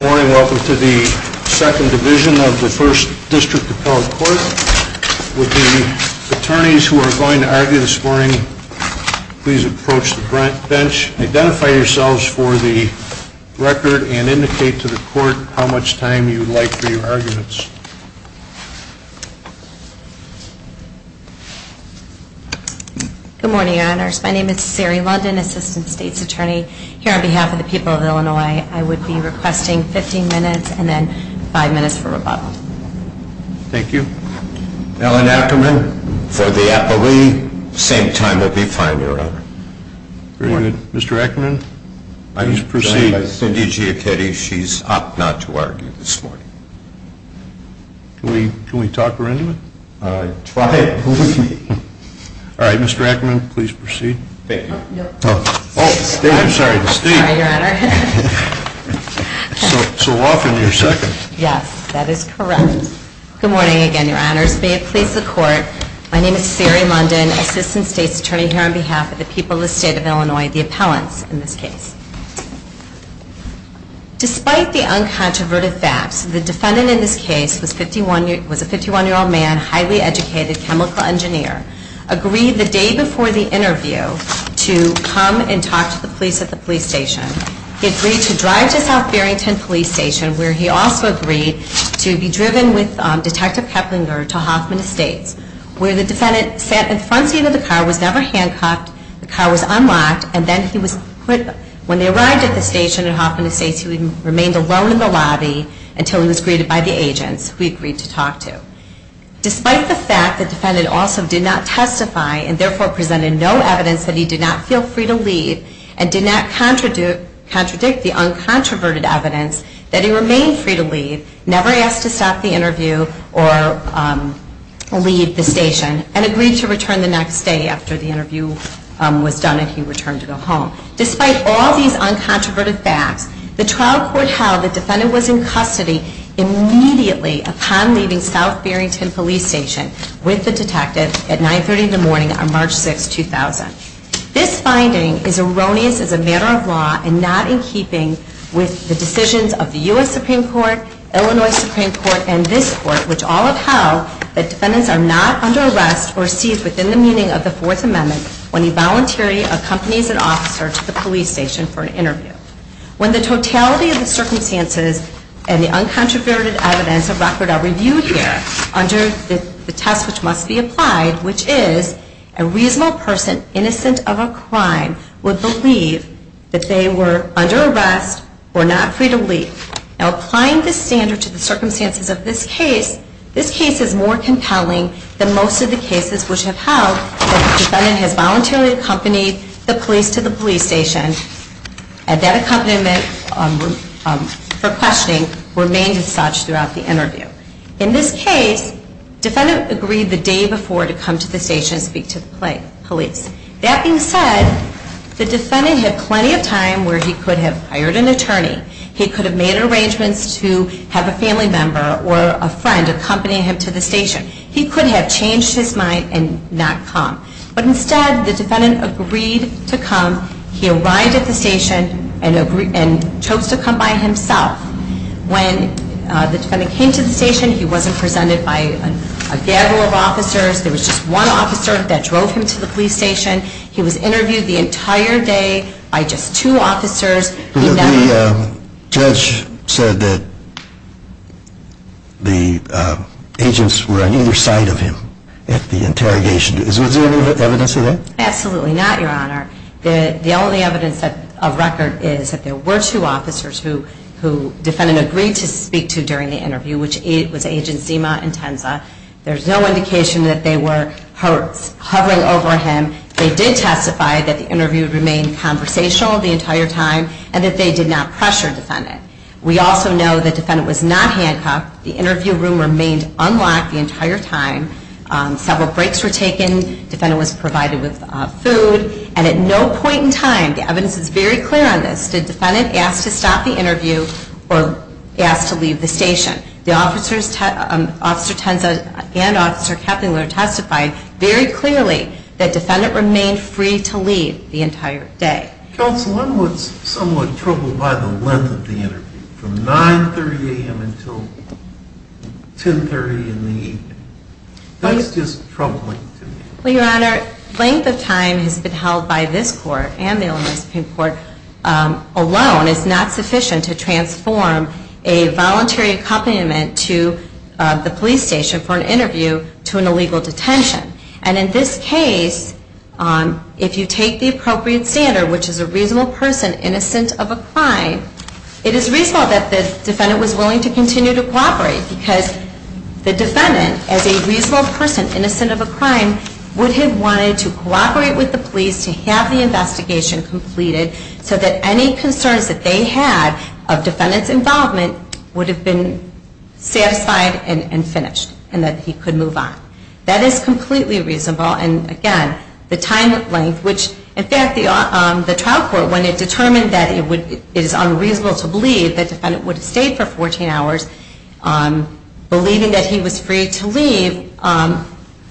Good morning. Welcome to the 2nd Division of the 1st District Appellate Court. Would the attorneys who are going to argue this morning please approach the bench. Identify yourselves for the record and indicate to the court how much time you would like for your arguments. Good morning, Your Honors. My name is Sari London, Assistant State's Attorney. Here on behalf of the people of Illinois, I would be requesting 15 minutes and then 5 minutes for rebuttal. Thank you. Ellen Ackerman for the appellee. Same time would be fine, Your Honor. Good morning. Mr. Ackerman, please proceed. I'm sorry, I said it. Cindy Giacchetti, she's up not to argue this morning. Can we talk her into it? I tried. All right, Mr. Ackerman, please proceed. Thank you. Oh, I'm sorry, Steve. Sorry, Your Honor. So off and you're second. Yes, that is correct. Good morning again, Your Honors. May it please the Court. My name is Sari London, Assistant State's Attorney here on behalf of the people of the State of Illinois, the appellants in this case. Despite the uncontroverted facts, the defendant in this case was a 51-year-old man, highly educated chemical engineer, agreed the day before the interview to come and talk to the police at the police station. He agreed to drive to South Barrington Police Station, where he also agreed to be driven with Detective Keplinger to Hoffman Estates, where the defendant sat in the front seat of the car, was never handcuffed, the car was unlocked, and then he was put, when they arrived at the station at Hoffman Estates, he remained alone in the lobby until he was greeted by the agents, who he agreed to talk to. Despite the fact that the defendant also did not testify, and therefore presented no evidence that he did not feel free to leave, and did not contradict the uncontroverted evidence that he remained free to leave, never asked to stop the interview or leave the station, and agreed to return the next day after the interview was done and he returned to go home. Despite all these uncontroverted facts, the trial court held the defendant was in custody immediately upon leaving South Barrington Police Station with the detective at 9.30 in the morning on March 6, 2000. This finding is erroneous as a matter of law and not in keeping with the decisions of the U.S. Supreme Court, Illinois Supreme Court, and this court, which all upheld that defendants are not under arrest or seized within the meaning of the Fourth Amendment when a volunteer accompanies an officer to the police station for an interview. When the totality of the circumstances and the uncontroverted evidence of record are reviewed here under the test which must be applied, which is a reasonable person, innocent of a crime, would believe that they were under arrest or not free to leave. Now applying this standard to the circumstances of this case, this case is more compelling than most of the cases which have held that the defendant has voluntarily accompanied the police to the police station and that accompaniment for questioning remained as such throughout the interview. In this case, the defendant agreed the day before to come to the station and speak to the police. That being said, the defendant had plenty of time where he could have hired an attorney. He could have made arrangements to have a family member or a friend accompany him to the station. He could have changed his mind and not come. But instead, the defendant agreed to come. He arrived at the station and chose to come by himself. When the defendant came to the station, he wasn't presented by a gathering of officers. There was just one officer that drove him to the police station. He was interviewed the entire day by just two officers. The judge said that the agents were on either side of him at the interrogation. Is there any evidence of that? Absolutely not, Your Honor. The only evidence of record is that there were two officers who the defendant agreed to speak to during the interview, which was Agents Zima and Tenza. There's no indication that they were hovering over him. They did testify that the interview remained conversational the entire time and that they did not pressure the defendant. We also know that the defendant was not handcuffed. The interview room remained unlocked the entire time. Several breaks were taken. The defendant was provided with food. And at no point in time, the evidence is very clear on this, did the defendant ask to stop the interview or ask to leave the station? Officer Tenza and Officer Keplinger testified very clearly that the defendant remained free to leave the entire day. Counsel, I'm somewhat troubled by the length of the interview, from 9.30 a.m. until 10.30 in the evening. That's just troubling to me. Well, Your Honor, length of time has been held by this court and the Illinois Supreme Court alone is not sufficient to transform a voluntary accompaniment to the police station for an interview to an illegal detention. And in this case, if you take the appropriate standard, which is a reasonable person innocent of a crime, it is reasonable that the defendant was willing to continue to cooperate. Because the defendant, as a reasonable person innocent of a crime, would have wanted to cooperate with the police to have the investigation completed so that any concerns that they had of defendant's involvement would have been satisfied and finished and that he could move on. That is completely reasonable. And again, the time length, which in fact the trial court, when it determined that it is unreasonable to believe that the defendant would have stayed for 14 hours, believing that he was free to leave,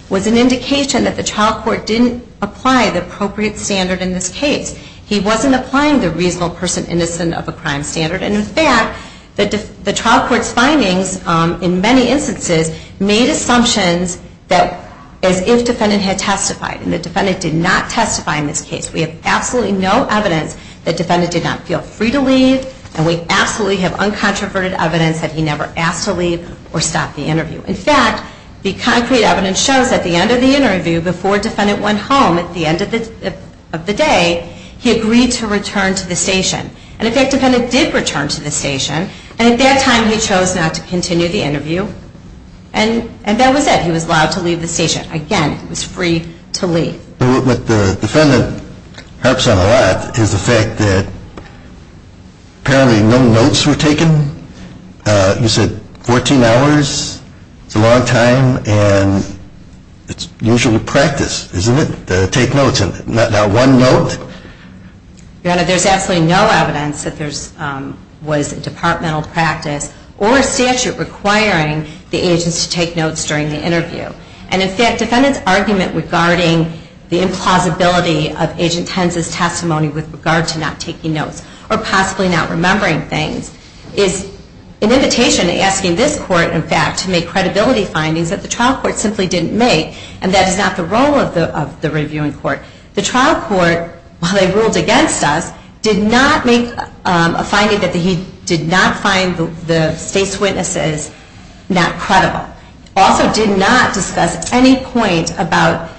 was an indication that the trial court didn't apply the appropriate standard in this case. He wasn't applying the reasonable person innocent of a crime standard. And in fact, the trial court's findings in many instances made assumptions that as if defendant had testified. And the defendant did not testify in this case. We have absolutely no evidence that defendant did not feel free to leave. And we absolutely have uncontroverted evidence that he never asked to leave or stop the interview. In fact, the concrete evidence shows at the end of the interview, before defendant went home at the end of the day, he agreed to return to the station. And in fact, defendant did return to the station. And at that time, he chose not to continue the interview. And that was it. He was allowed to leave the station. Again, he was free to leave. But what the defendant harps on a lot is the fact that apparently no notes were taken. You said 14 hours. It's a long time. And it's usual practice, isn't it, to take notes? And not one note? Your Honor, there's absolutely no evidence that there was departmental practice or a statute requiring the agents to take notes during the interview. And in fact, defendant's argument regarding the implausibility of Agent Hens' testimony with regard to not taking notes or possibly not remembering things, is an invitation asking this court, in fact, to make credibility findings that the trial court simply didn't make. And that is not the role of the reviewing court. The trial court, while they ruled against us, did not make a finding that he did not find the state's witnesses not credible. Also did not discuss any point about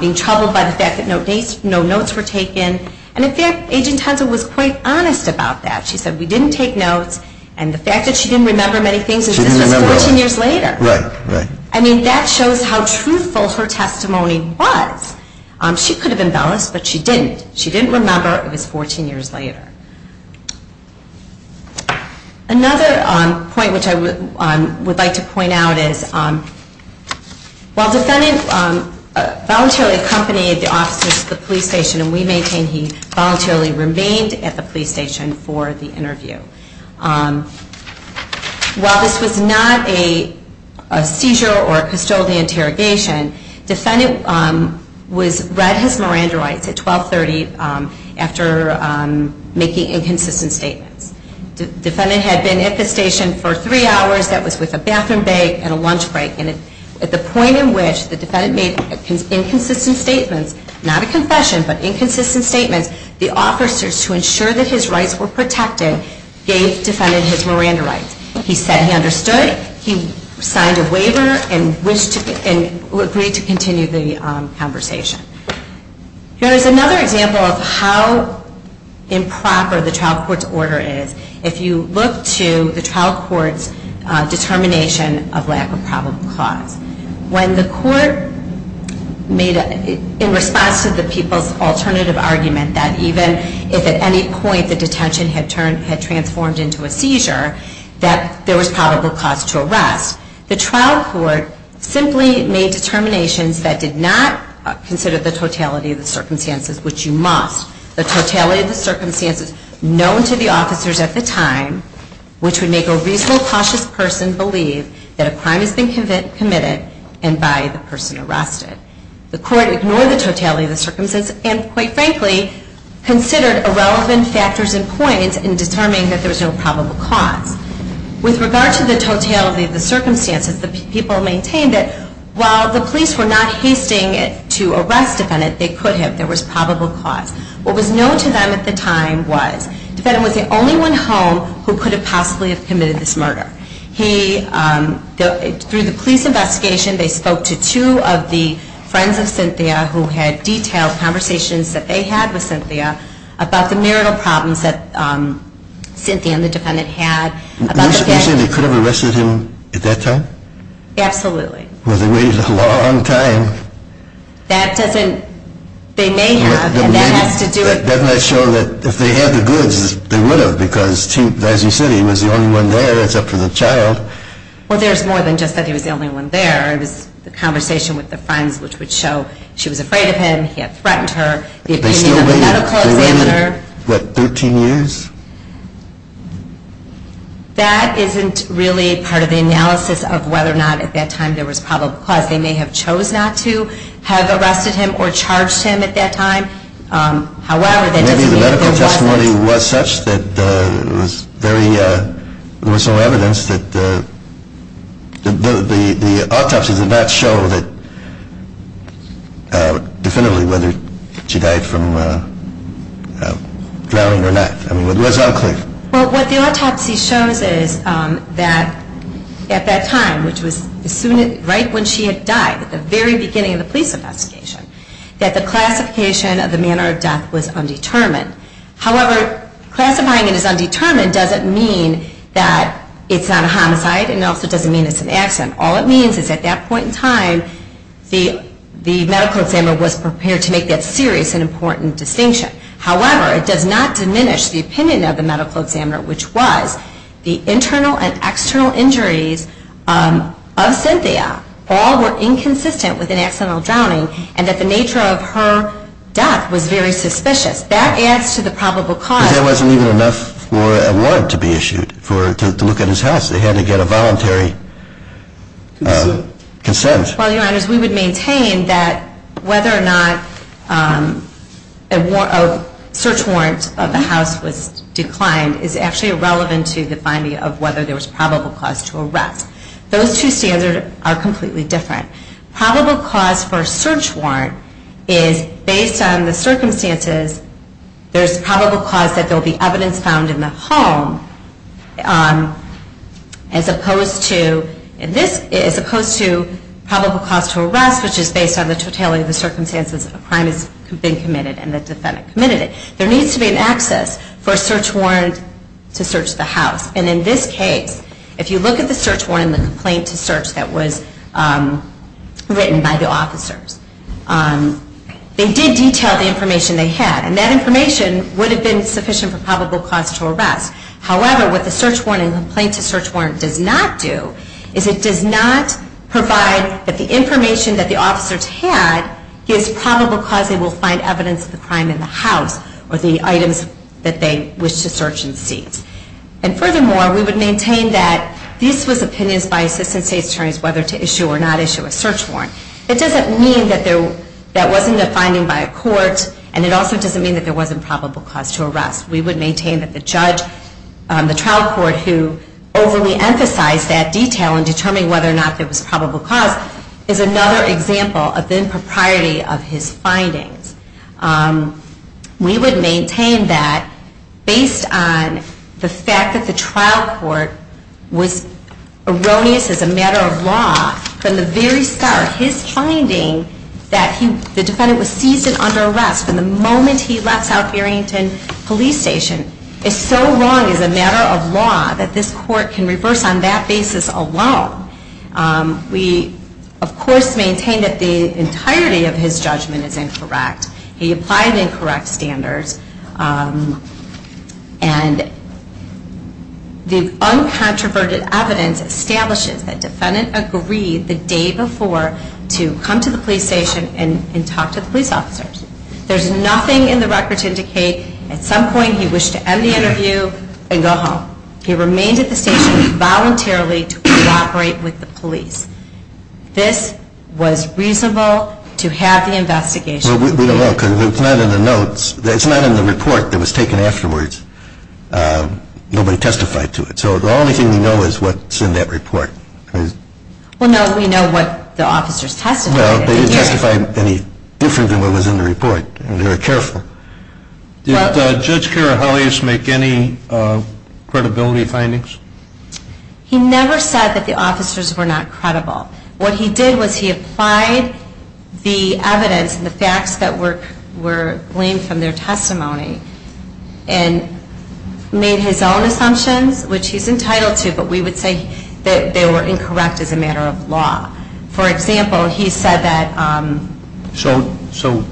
being troubled by the fact that no notes were taken. And in fact, Agent Hensel was quite honest about that. She said, we didn't take notes. And the fact that she didn't remember many things is this was 14 years later. Right, right. I mean, that shows how truthful her testimony was. She could have embellished, but she didn't. She didn't remember. It was 14 years later. Another point which I would like to point out is while defendant voluntarily accompanied the officers to the police station, and we maintain he voluntarily remained at the police station for the interview, while this was not a seizure or a custodial interrogation, defendant read his Miranda rights at 1230 after making inconsistent statements. Defendant had been at the station for three hours. That was with a bathroom break and a lunch break. And at the point in which the defendant made inconsistent statements, not a confession, but inconsistent statements, the officers, to ensure that his rights were protected, gave defendant his Miranda rights. He said he understood. He signed a waiver and agreed to continue the conversation. Here is another example of how improper the trial court's order is. If you look to the trial court's determination of lack of probable cause, when the court made, in response to the people's alternative argument that even if at any point the detention had transformed into a seizure, that there was probable cause to arrest, the trial court simply made determinations that did not consider the totality of the circumstances, which you must, the totality of the circumstances known to the officers at the time, which would make a reasonable, cautious person believe that a crime has been committed and by the person arrested. The court ignored the totality of the circumstances and, quite frankly, considered irrelevant factors and points in determining that there was no probable cause. With regard to the totality of the circumstances, the people maintained that while the police were not hasting to arrest the defendant, they could have. There was probable cause. What was known to them at the time was the defendant was the only one home who could have possibly committed this murder. Through the police investigation, they spoke to two of the friends of Cynthia who had detailed conversations that they had with Cynthia about the marital problems that Cynthia and the defendant had. You're saying they could have arrested him at that time? Absolutely. Well, they waited a long time. That doesn't, they may have. That might show that if they had the goods, they would have because, as you said, he was the only one there. It's up to the child. Well, there's more than just that he was the only one there. It was the conversation with the friends which would show she was afraid of him, he had threatened her. They still waited, what, 13 years? That isn't really part of the analysis of whether or not at that time there was probable cause. They may have chose not to have arrested him or charged him at that time. However, that doesn't mean it wasn't. Maybe the medical testimony was such that it was very, there was some evidence that the autopsy did not show that definitively whether she died from drowning or not. I mean, it was unclear. Well, what the autopsy shows is that at that time, which was right when she had died, at the very beginning of the police investigation, that the classification of the manner of death was undetermined. However, classifying it as undetermined doesn't mean that it's not a homicide and also doesn't mean it's an accident. All it means is at that point in time, the medical examiner was prepared to make that serious and important distinction. However, it does not diminish the opinion of the medical examiner, which was the internal and external injuries of Cynthia all were inconsistent with an accidental drowning and that the nature of her death was very suspicious. That adds to the probable cause. I mean, there wasn't even enough for a warrant to be issued to look at his house. They had to get a voluntary consent. Well, Your Honors, we would maintain that whether or not a search warrant of the house was declined is actually irrelevant to the finding of whether there was probable cause to arrest. Those two standards are completely different. Probable cause for a search warrant is based on the circumstances. There's probable cause that there will be evidence found in the home as opposed to probable cause to arrest, which is based on the totality of the circumstances a crime has been committed and the defendant committed it. There needs to be an access for a search warrant to search the house. And in this case, if you look at the search warrant and the complaint to search that was written by the officers, they did detail the information they had. And that information would have been sufficient for probable cause to arrest. However, what the search warrant and the complaint to search warrant does not do is it does not provide that the information that the officers had gives probable cause they will find evidence of the crime in the house or the items that they wish to search and seize. And furthermore, we would maintain that these were opinions by assistant state attorneys whether to issue or not issue a search warrant. It doesn't mean that that wasn't a finding by a court, and it also doesn't mean that there wasn't probable cause to arrest. We would maintain that the trial court who overly emphasized that detail in determining whether or not there was probable cause is another example of the impropriety of his findings. We would maintain that based on the fact that the trial court was erroneous as a matter of law from the very start, his finding that the defendant was seized and under arrest from the moment he left South Barrington Police Station is so wrong as a matter of law that this court can reverse on that basis alone. We, of course, maintain that the entirety of his judgment is incorrect. He applied incorrect standards, and the uncontroverted evidence establishes that defendant agreed the day before to come to the police station and talk to the police officers. There's nothing in the record to indicate at some point he wished to end the interview and go home. He remained at the station voluntarily to cooperate with the police. This was reasonable to have the investigation. We don't know because it's not in the notes. It's not in the report that was taken afterwards. Nobody testified to it. So the only thing we know is what's in that report. Well, no, we know what the officers testified. They didn't testify any different than what was in the report, and they were careful. Did Judge Karahelius make any credibility findings? He never said that the officers were not credible. What he did was he applied the evidence and the facts that were gleaned from their testimony and made his own assumptions, which he's entitled to, but we would say that they were incorrect as a matter of law. For example, he said that... So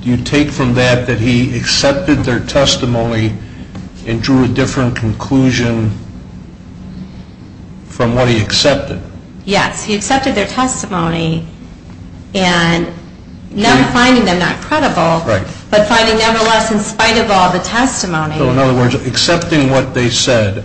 do you take from that that he accepted their testimony and drew a different conclusion from what he accepted? Yes. He accepted their testimony and never finding them not credible, but finding nevertheless in spite of all the testimony... So in other words, accepting what they said,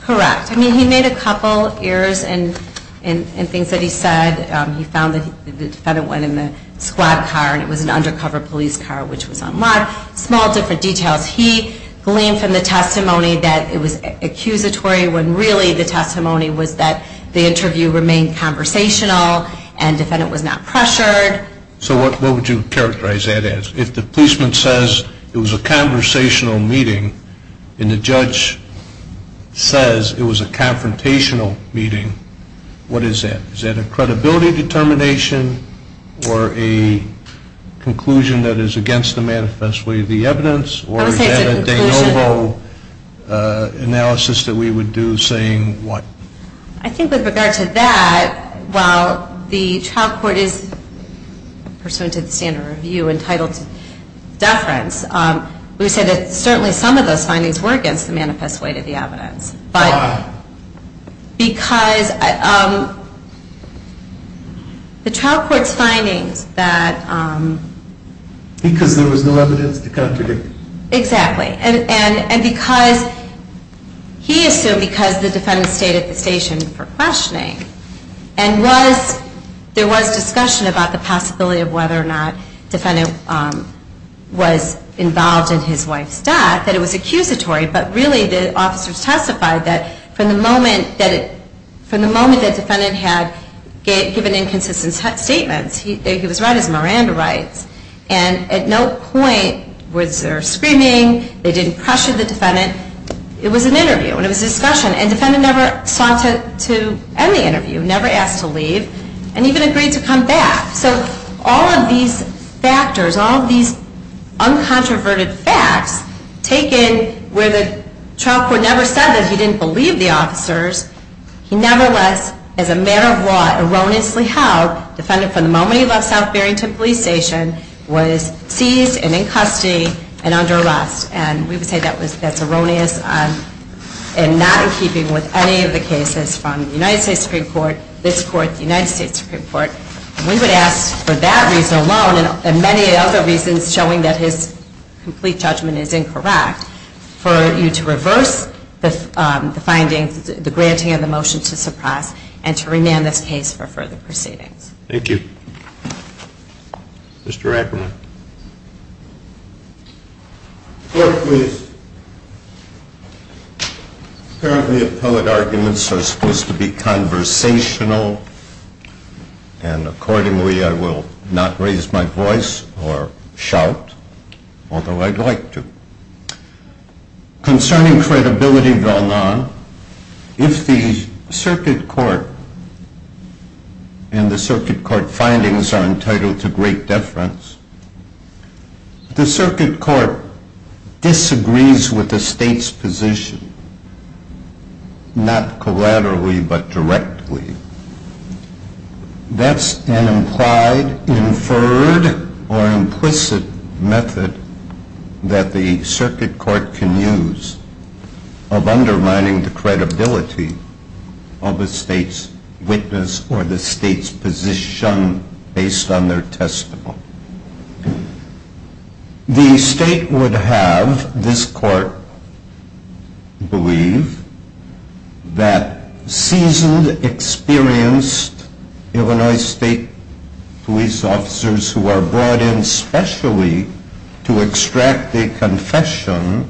Correct. I mean, he made a couple errors in things that he said. He found that the defendant went in the squad car, and it was an undercover police car, which was unlawful. Small different details. He gleaned from the testimony that it was accusatory He didn't say that the interview remained conversational. And the defendant was not pressured. So what would you characterize that as? If the policeman says it was a conversational meeting and the judge says it was a confrontational meeting, what is that? Is that a credibility determination or a conclusion that is against the manifest way of the evidence? Or is that a de novo analysis that we would do saying what? I think with regard to that, while the trial court is pursuant to the standard review entitled to deference, we would say that certainly some of those findings were against the manifest way of the evidence. Why? Because the trial court's findings that... Because there was no evidence to contradict. Exactly. And because he assumed because the defendant stayed at the station for questioning and there was discussion about the possibility of whether or not the defendant was involved in his wife's death, that it was accusatory. But really the officers testified that from the moment that the defendant had given inconsistent statements, he was right as Miranda writes, and at no point was there screaming. They didn't pressure the defendant. It was an interview and it was a discussion. And the defendant never sought to end the interview, never asked to leave, and even agreed to come back. So all of these factors, all of these uncontroverted facts, taken where the trial court never said that he didn't believe the officers, he nevertheless, as a matter of law, erroneously held, defended from the moment he left South Barrington Police Station, was seized and in custody and under arrest. And we would say that's erroneous and not in keeping with any of the cases from the United States Supreme Court, this court, the United States Supreme Court. We would ask for that reason alone and many other reasons showing that his complete judgment is incorrect, for you to reverse the findings, the granting of the motion to suppress, and to remand this case for further proceedings. Thank you. Mr. Ackerman. Court, please. Apparently, appellate arguments are supposed to be conversational, and accordingly I will not raise my voice or shout, although I'd like to. Concerning credibility, if the circuit court and the circuit court findings are entitled to great deference, the circuit court disagrees with the state's position, not collaterally but directly, that's an implied, inferred, or implicit method that the circuit court can use of undermining the credibility of the state's witness or the state's position based on their testimony. The state would have this court believe that seasoned, experienced Illinois State police officers who are brought in specially to extract a confession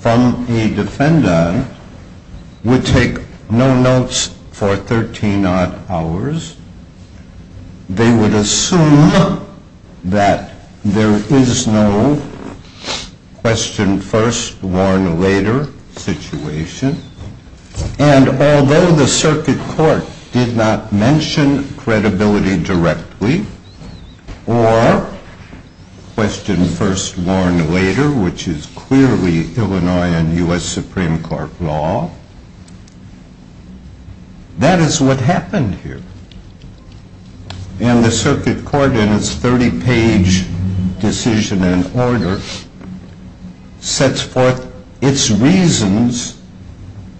from a defendant would take no notes for 13 odd hours. They would assume that there is no question first, warn later situation, and although the circuit court did not mention credibility directly, or question first, warn later, which is clearly Illinois and U.S. Supreme Court law, that is what happened here. And the circuit court in its 30-page decision and order sets forth its reasons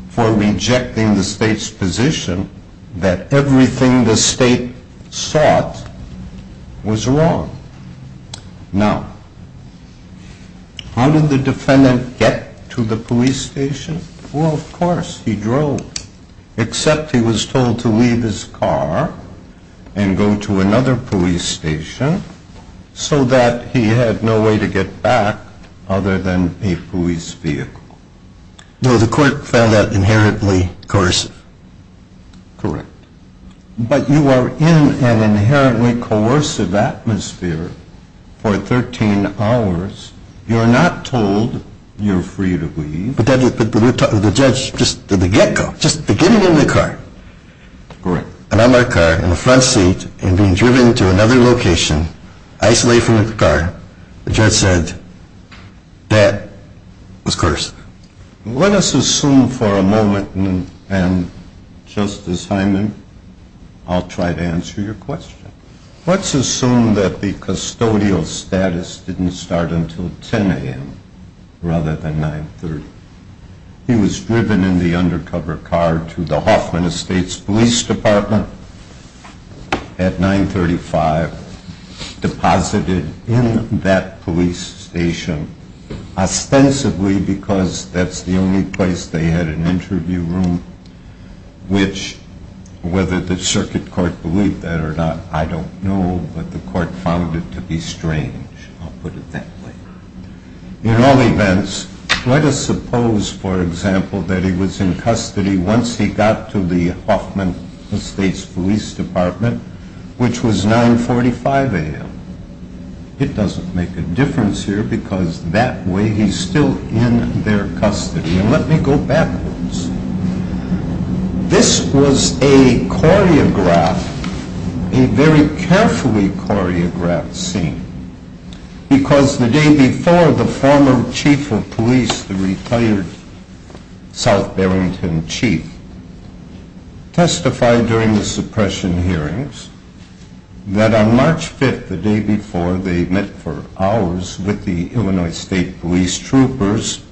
for rejecting the state's position that everything the state sought was wrong. Now, how did the defendant get to the police station? Well, of course, he drove. Except he was told to leave his car and go to another police station so that he had no way to get back other than a police vehicle. No, the court found that inherently coercive. Correct. But you are in an inherently coercive atmosphere for 13 hours. You're not told you're free to leave. But the judge, just at the get-go, just beginning in the car. Correct. And I'm in my car in the front seat and being driven to another location, isolated from the car, the judge said that was coercive. Let us assume for a moment, and Justice Hyman, I'll try to answer your question. Let's assume that the custodial status didn't start until 10 a.m. rather than 9.30. He was driven in the undercover car to the Hoffman Estates Police Department at 9.35, deposited in that police station, ostensibly because that's the only place they had an interview room, which, whether the circuit court believed that or not, I don't know, but the court found it to be strange. I'll put it that way. In all events, let us suppose, for example, that he was in custody once he got to the Hoffman Estates Police Department, which was 9.45 a.m. It doesn't make a difference here because that way he's still in their custody. And let me go backwards. This was a choreographed, a very carefully choreographed scene, because the day before the former chief of police, the retired South Barrington chief, testified during the suppression hearings that on March 5th, the day before, they met for hours with the Illinois State Police troopers,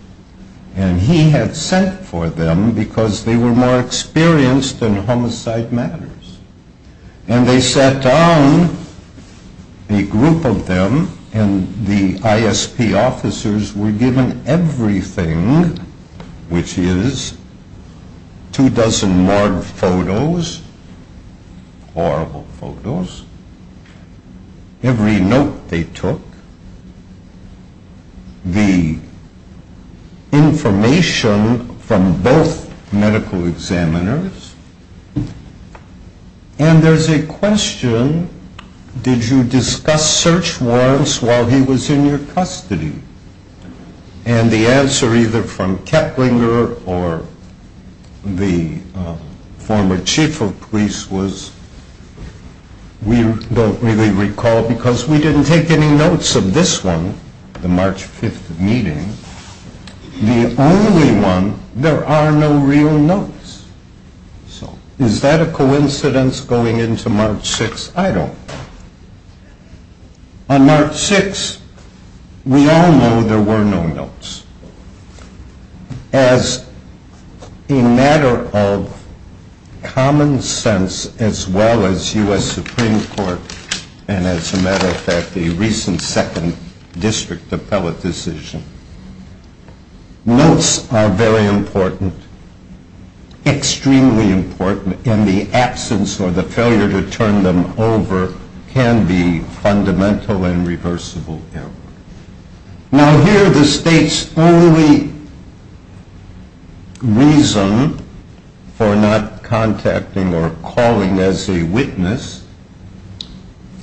and he had sent for them because they were more experienced in homicide matters. And they sat down, a group of them, and the ISP officers were given everything, which is two dozen marred photos, horrible photos, every note they took, the information from both medical examiners, and there's a question, did you discuss search warrants while he was in your custody? And the answer either from Kettlinger or the former chief of police was, we don't really recall because we didn't take any notes of this one, the March 5th meeting. The only one, there are no real notes. So is that a coincidence going into March 6th? I don't. On March 6th, we all know there were no notes. As a matter of common sense, as well as U.S. Supreme Court, and as a matter of fact, the recent second district appellate decision, notes are very important, extremely important, and the absence or the failure to turn them over can be fundamental and reversible. Now here the state's only reason for not contacting or calling as a witness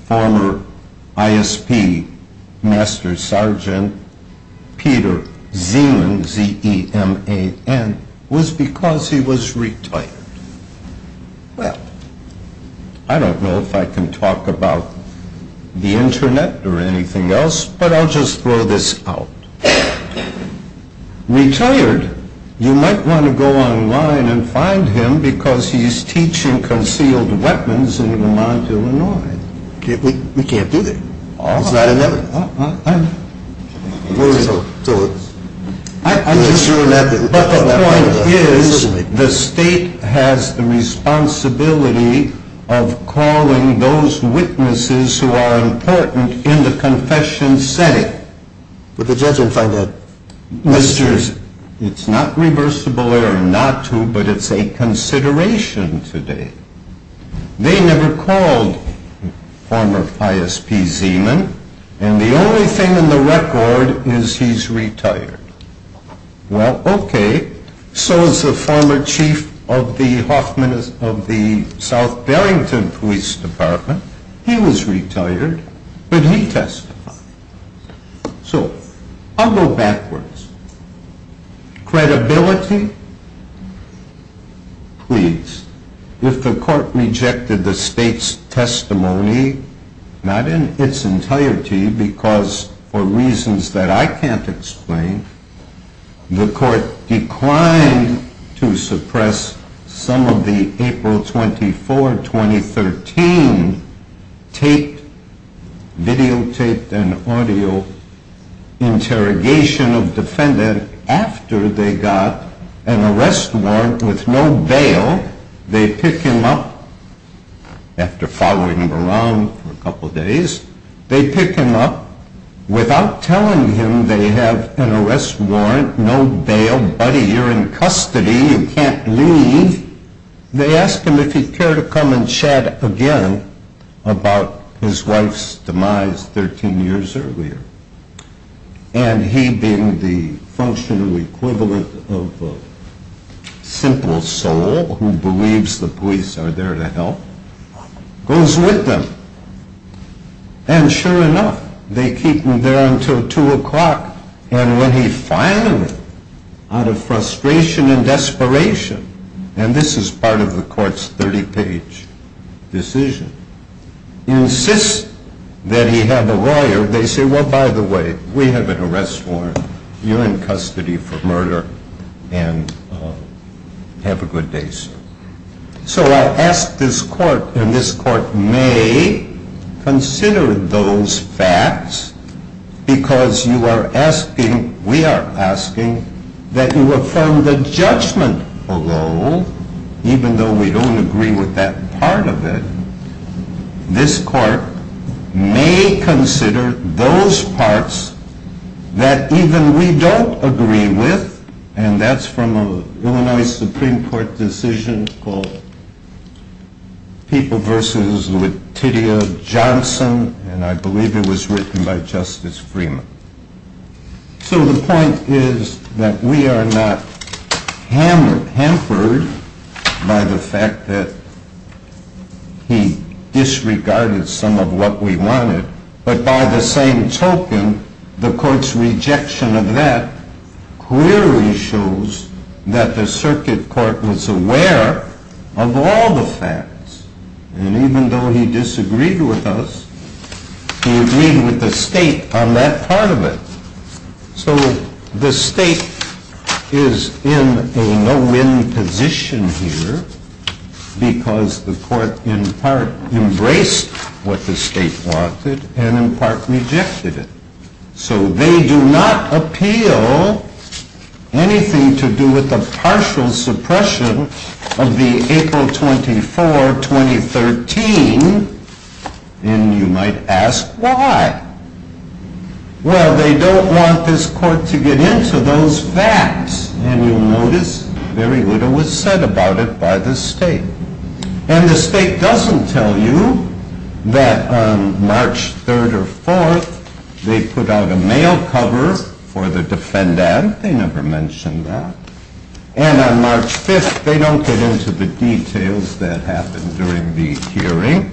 former ISP Master Sergeant Peter Zeman, Z-E-M-A-N, was because he was retired. Well, I don't know if I can talk about the Internet or anything else, but I'll just throw this out. Retired, you might want to go online and find him because he's teaching concealed weapons in Vermont, Illinois. We can't do that. It's not inevitable. But the point is the state has the responsibility of calling those witnesses who are important in the confession setting. Would the judge find that necessary? It's not reversible or not to, but it's a consideration today. They never called former ISP Zeman, and the only thing in the record is he's retired. Well, okay, so is the former chief of the South Barrington Police Department. He was retired, but he testified. So I'll go backwards. Credibility? Please. If the court rejected the state's testimony, not in its entirety, because for reasons that I can't explain, the court declined to suppress some of the April 24, 2013, videotaped and audio interrogation of defendant after they got an arrest warrant with no bail. They pick him up after following him around for a couple of days. They pick him up without telling him they have an arrest warrant, no bail. Buddy, you're in custody. You can't leave. They ask him if he'd care to come and chat again about his wife's demise 13 years earlier. And he, being the functional equivalent of a simple soul who believes the police are there to help, goes with them. And sure enough, they keep him there until 2 o'clock. And when he finally, out of frustration and desperation, and this is part of the court's 30-page decision, insists that he have a lawyer, they say, Well, by the way, we have an arrest warrant. You're in custody for murder, and have a good day, sir. So I ask this court, and this court may consider those facts, because you are asking, we are asking, that you affirm the judgment alone, even though we don't agree with that part of it. This court may consider those parts that even we don't agree with, and that's from an Illinois Supreme Court decision called People v. Latitia Johnson, and I believe it was written by Justice Freeman. So the point is that we are not hampered by the fact that he disregarded some of what we wanted, but by the same token, the court's rejection of that clearly shows that the circuit court was aware of all the facts. And even though he disagreed with us, he agreed with the state on that part of it. So the state is in a no-win position here, because the court in part embraced what the state wanted, and in part rejected it. So they do not appeal anything to do with the partial suppression of the April 24, 2013, and you might ask, why? Well, they don't want this court to get into those facts, and you'll notice very little was said about it by the state. And the state doesn't tell you that on March 3rd or 4th, they put out a mail cover for the defendant. They never mention that. And on March 5th, they don't get into the details that happened during the hearing.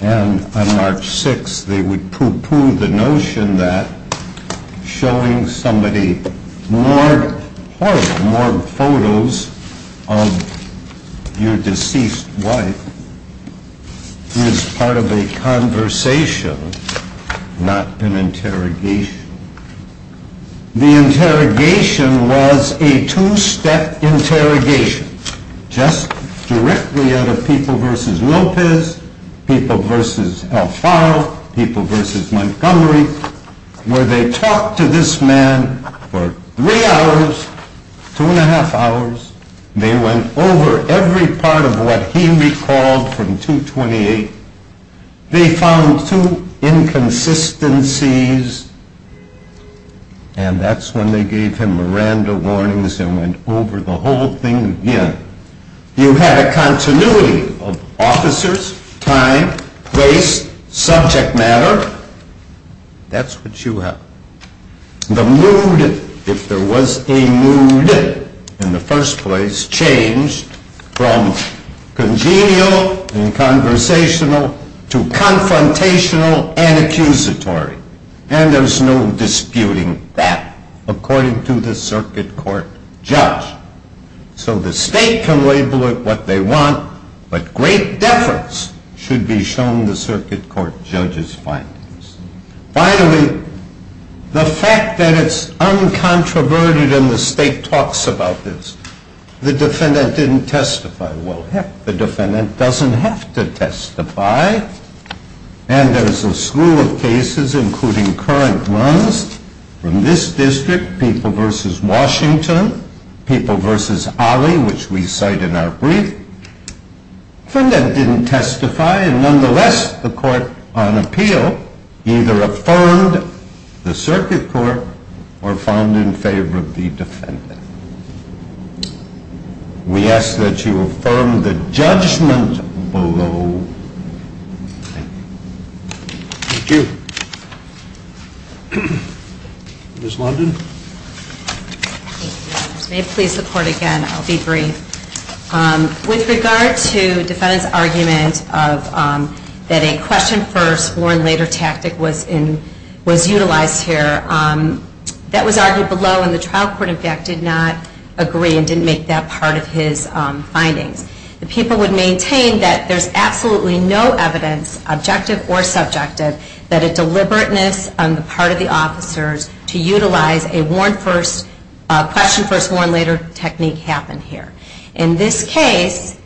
And on March 6th, they would poo-poo the notion that showing somebody morgue photos of your deceased wife is part of a conversation, not an interrogation. The interrogation was a two-step interrogation. Just directly out of People v. Lopez, People v. Alfaro, People v. Montgomery, where they talked to this man for three hours, two and a half hours. They went over every part of what he recalled from 228. They found two inconsistencies, and that's when they gave him Miranda warnings and went over the whole thing again. You had a continuity of officers, time, place, subject matter. That's what you have. The mood, if there was a mood in the first place, changed from congenial and conversational to confrontational and accusatory. And there's no disputing that, according to the circuit court judge. So the state can label it what they want, but great deference should be shown the circuit court judge's findings. Finally, the fact that it's uncontroverted and the state talks about this, the defendant didn't testify. And there's a slew of cases, including current ones from this district, People v. Washington, People v. Ali, which we cite in our brief. The defendant didn't testify, and nonetheless, the court, on appeal, either affirmed the circuit court or found in favor of the defendant. We ask that you affirm the judgment below. Thank you. Thank you. Ms. London? May it please the Court again? I'll be brief. With regard to the defendant's argument that a question first, warn later tactic was utilized here, that was argued below, and the trial court, in fact, did not agree and didn't make that part of his findings. The people would maintain that there's absolutely no evidence, objective or subjective, that a deliberateness on the part of the officers to utilize a question first, warn later technique happened here. In this case,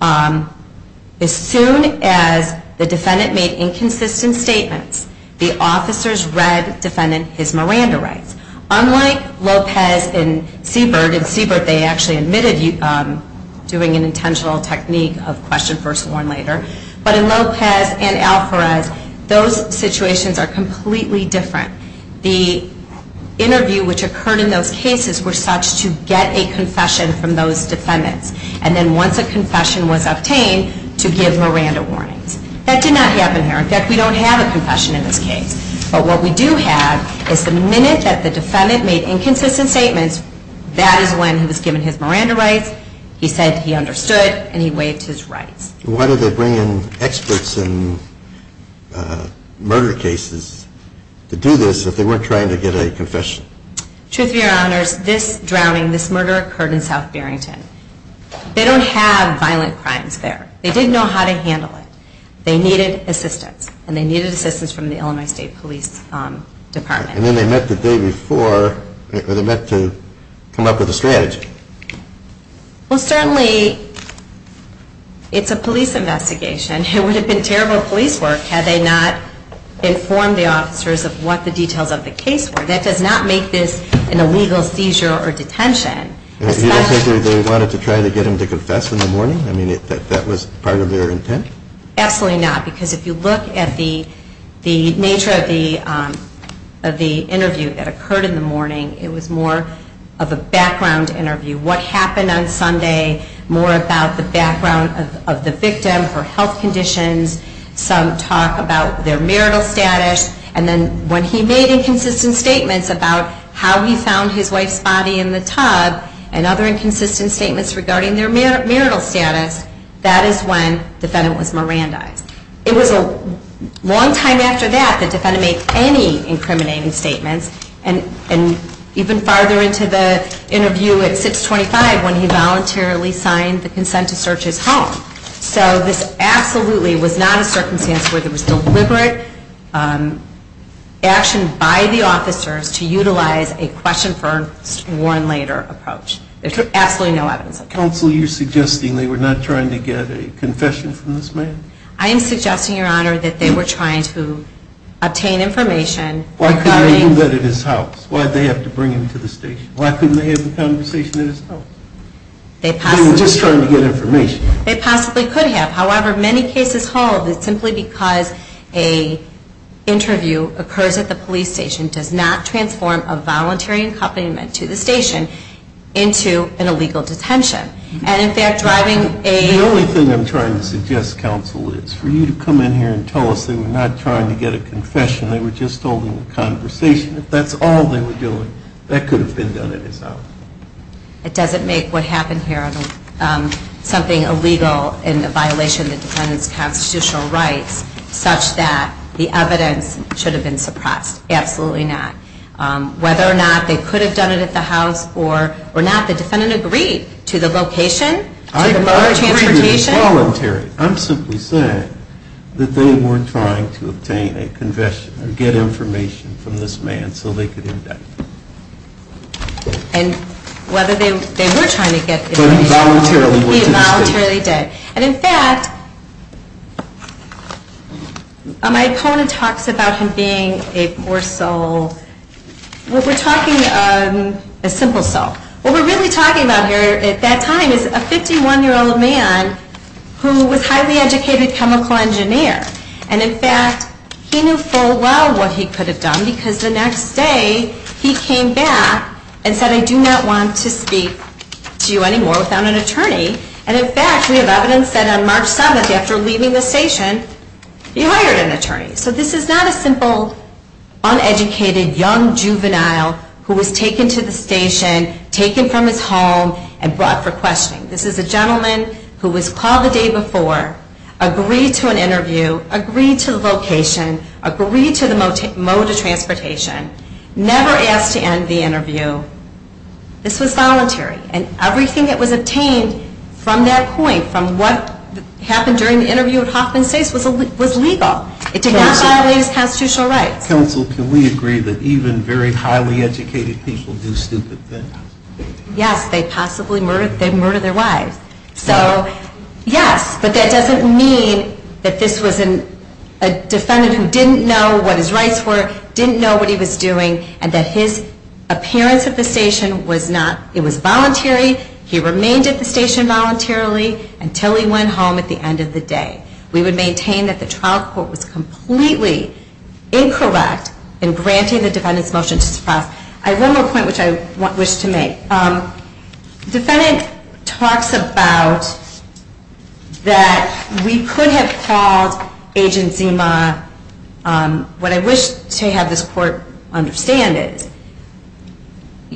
as soon as the defendant made inconsistent statements, the officers read the defendant his Miranda rights. Unlike Lopez and Siebert, in Siebert they actually admitted doing an intentional technique of question first, warn later, but in Lopez and Alferez, those situations are completely different. The interview which occurred in those cases were such to get a confession from those defendants, and then once a confession was obtained, to give Miranda warnings. That did not happen here. In fact, we don't have a confession in this case. But what we do have is the minute that the defendant made inconsistent statements, that is when he was given his Miranda rights, he said he understood, and he waived his rights. Why did they bring in experts in murder cases to do this if they weren't trying to get a confession? Truth be to your honors, this drowning, this murder occurred in South Barrington. They don't have violent crimes there. They didn't know how to handle it. They needed assistance, and they needed assistance from the Illinois State Police Department. And then they met the day before. They met to come up with a strategy. Well, certainly it's a police investigation. It would have been terrible police work had they not informed the officers of what the details of the case were. That does not make this an illegal seizure or detention. You don't think they wanted to try to get him to confess in the morning? I mean, that was part of their intent? Absolutely not. Because if you look at the nature of the interview that occurred in the morning, it was more of a background interview. What happened on Sunday, more about the background of the victim, her health conditions, some talk about their marital status. And then when he made inconsistent statements about how he found his wife's body in the tub and other inconsistent statements regarding their marital status, that is when the defendant was Mirandized. It was a long time after that that the defendant made any incriminating statements. And even farther into the interview at 625 when he voluntarily signed the consent to search his home. So this absolutely was not a circumstance where there was deliberate action by the officers to utilize a question first, warn later approach. There's absolutely no evidence of that. Counsel, you're suggesting they were not trying to get a confession from this man? I am suggesting, Your Honor, that they were trying to obtain information. Why couldn't they do that at his house? Why did they have to bring him to the station? Why couldn't they have a conversation at his house? They were just trying to get information. They possibly could have. However, many cases hold that simply because an interview occurs at the police station does not transform a voluntary accompaniment to the station into an illegal detention. And, in fact, driving a... The only thing I'm trying to suggest, Counsel, is for you to come in here and tell us they were not trying to get a confession. They were just holding a conversation. If that's all they were doing, that could have been done at his house. It doesn't make what happened here something illegal in the violation of the defendant's constitutional rights such that the evidence should have been suppressed. Absolutely not. Whether or not they could have done it at the house or not, the defendant agreed to the location, to the mode of transportation. I agree that it was voluntary. I'm simply saying that they weren't trying to obtain a confession or get information from this man so they could indict him. And whether they were trying to get information... But he voluntarily went to the station. He voluntarily did. And, in fact, my opponent talks about him being a poor soul. We're talking a simple soul. What we're really talking about here at that time is a 51-year-old man who was a highly educated chemical engineer. And, in fact, he knew full well what he could have done because the next day he came back and said, I do not want to speak to you anymore without an attorney. And, in fact, we have evidence that on March 7th, after leaving the station, he hired an attorney. So this is not a simple uneducated young juvenile who was taken to the station, taken from his home, and brought for questioning. This is a gentleman who was called the day before, agreed to an interview, agreed to the location, agreed to the mode of transportation, never asked to end the interview. This was voluntary. And everything that was obtained from that point, from what happened during the interview at Hoffman States, was legal. It did not violate his constitutional rights. Counsel, can we agree that even very highly educated people do stupid things? Yes, they possibly murder their wives. So, yes, but that doesn't mean that this was a defendant who didn't know what his rights were, didn't know what he was doing, and that his appearance at the station was not, it was voluntary, he remained at the station voluntarily until he went home at the end of the day. We would maintain that the trial court was completely incorrect in granting the defendant's motion to suppress. I have one more point which I wish to make. The defendant talks about that we could have called Agent Zima, what I wish to have this court understand is,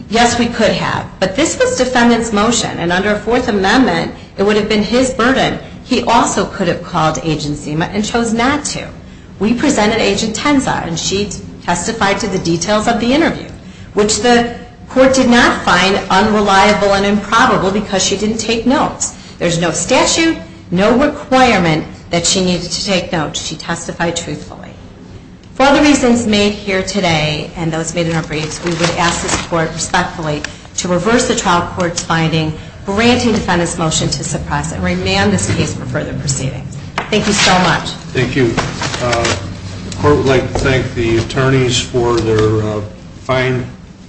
yes, we could have, but this was defendant's motion, and under a Fourth Amendment it would have been his burden. He also could have called Agent Zima and chose not to. We presented Agent Tenza, and she testified to the details of the interview, which the court did not find unreliable and improbable because she didn't take notes. There's no statute, no requirement that she needed to take notes. She testified truthfully. For the reasons made here today and those made in our briefs, we would ask this court respectfully to reverse the trial court's finding, granting defendant's motion to suppress and remand this case for further proceeding. Thank you so much. Thank you. The court would like to thank the attorneys for their fine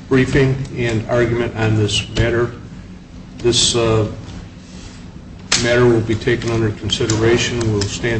briefing and argument on this matter. This matter will be taken under consideration. We'll stand adjourned.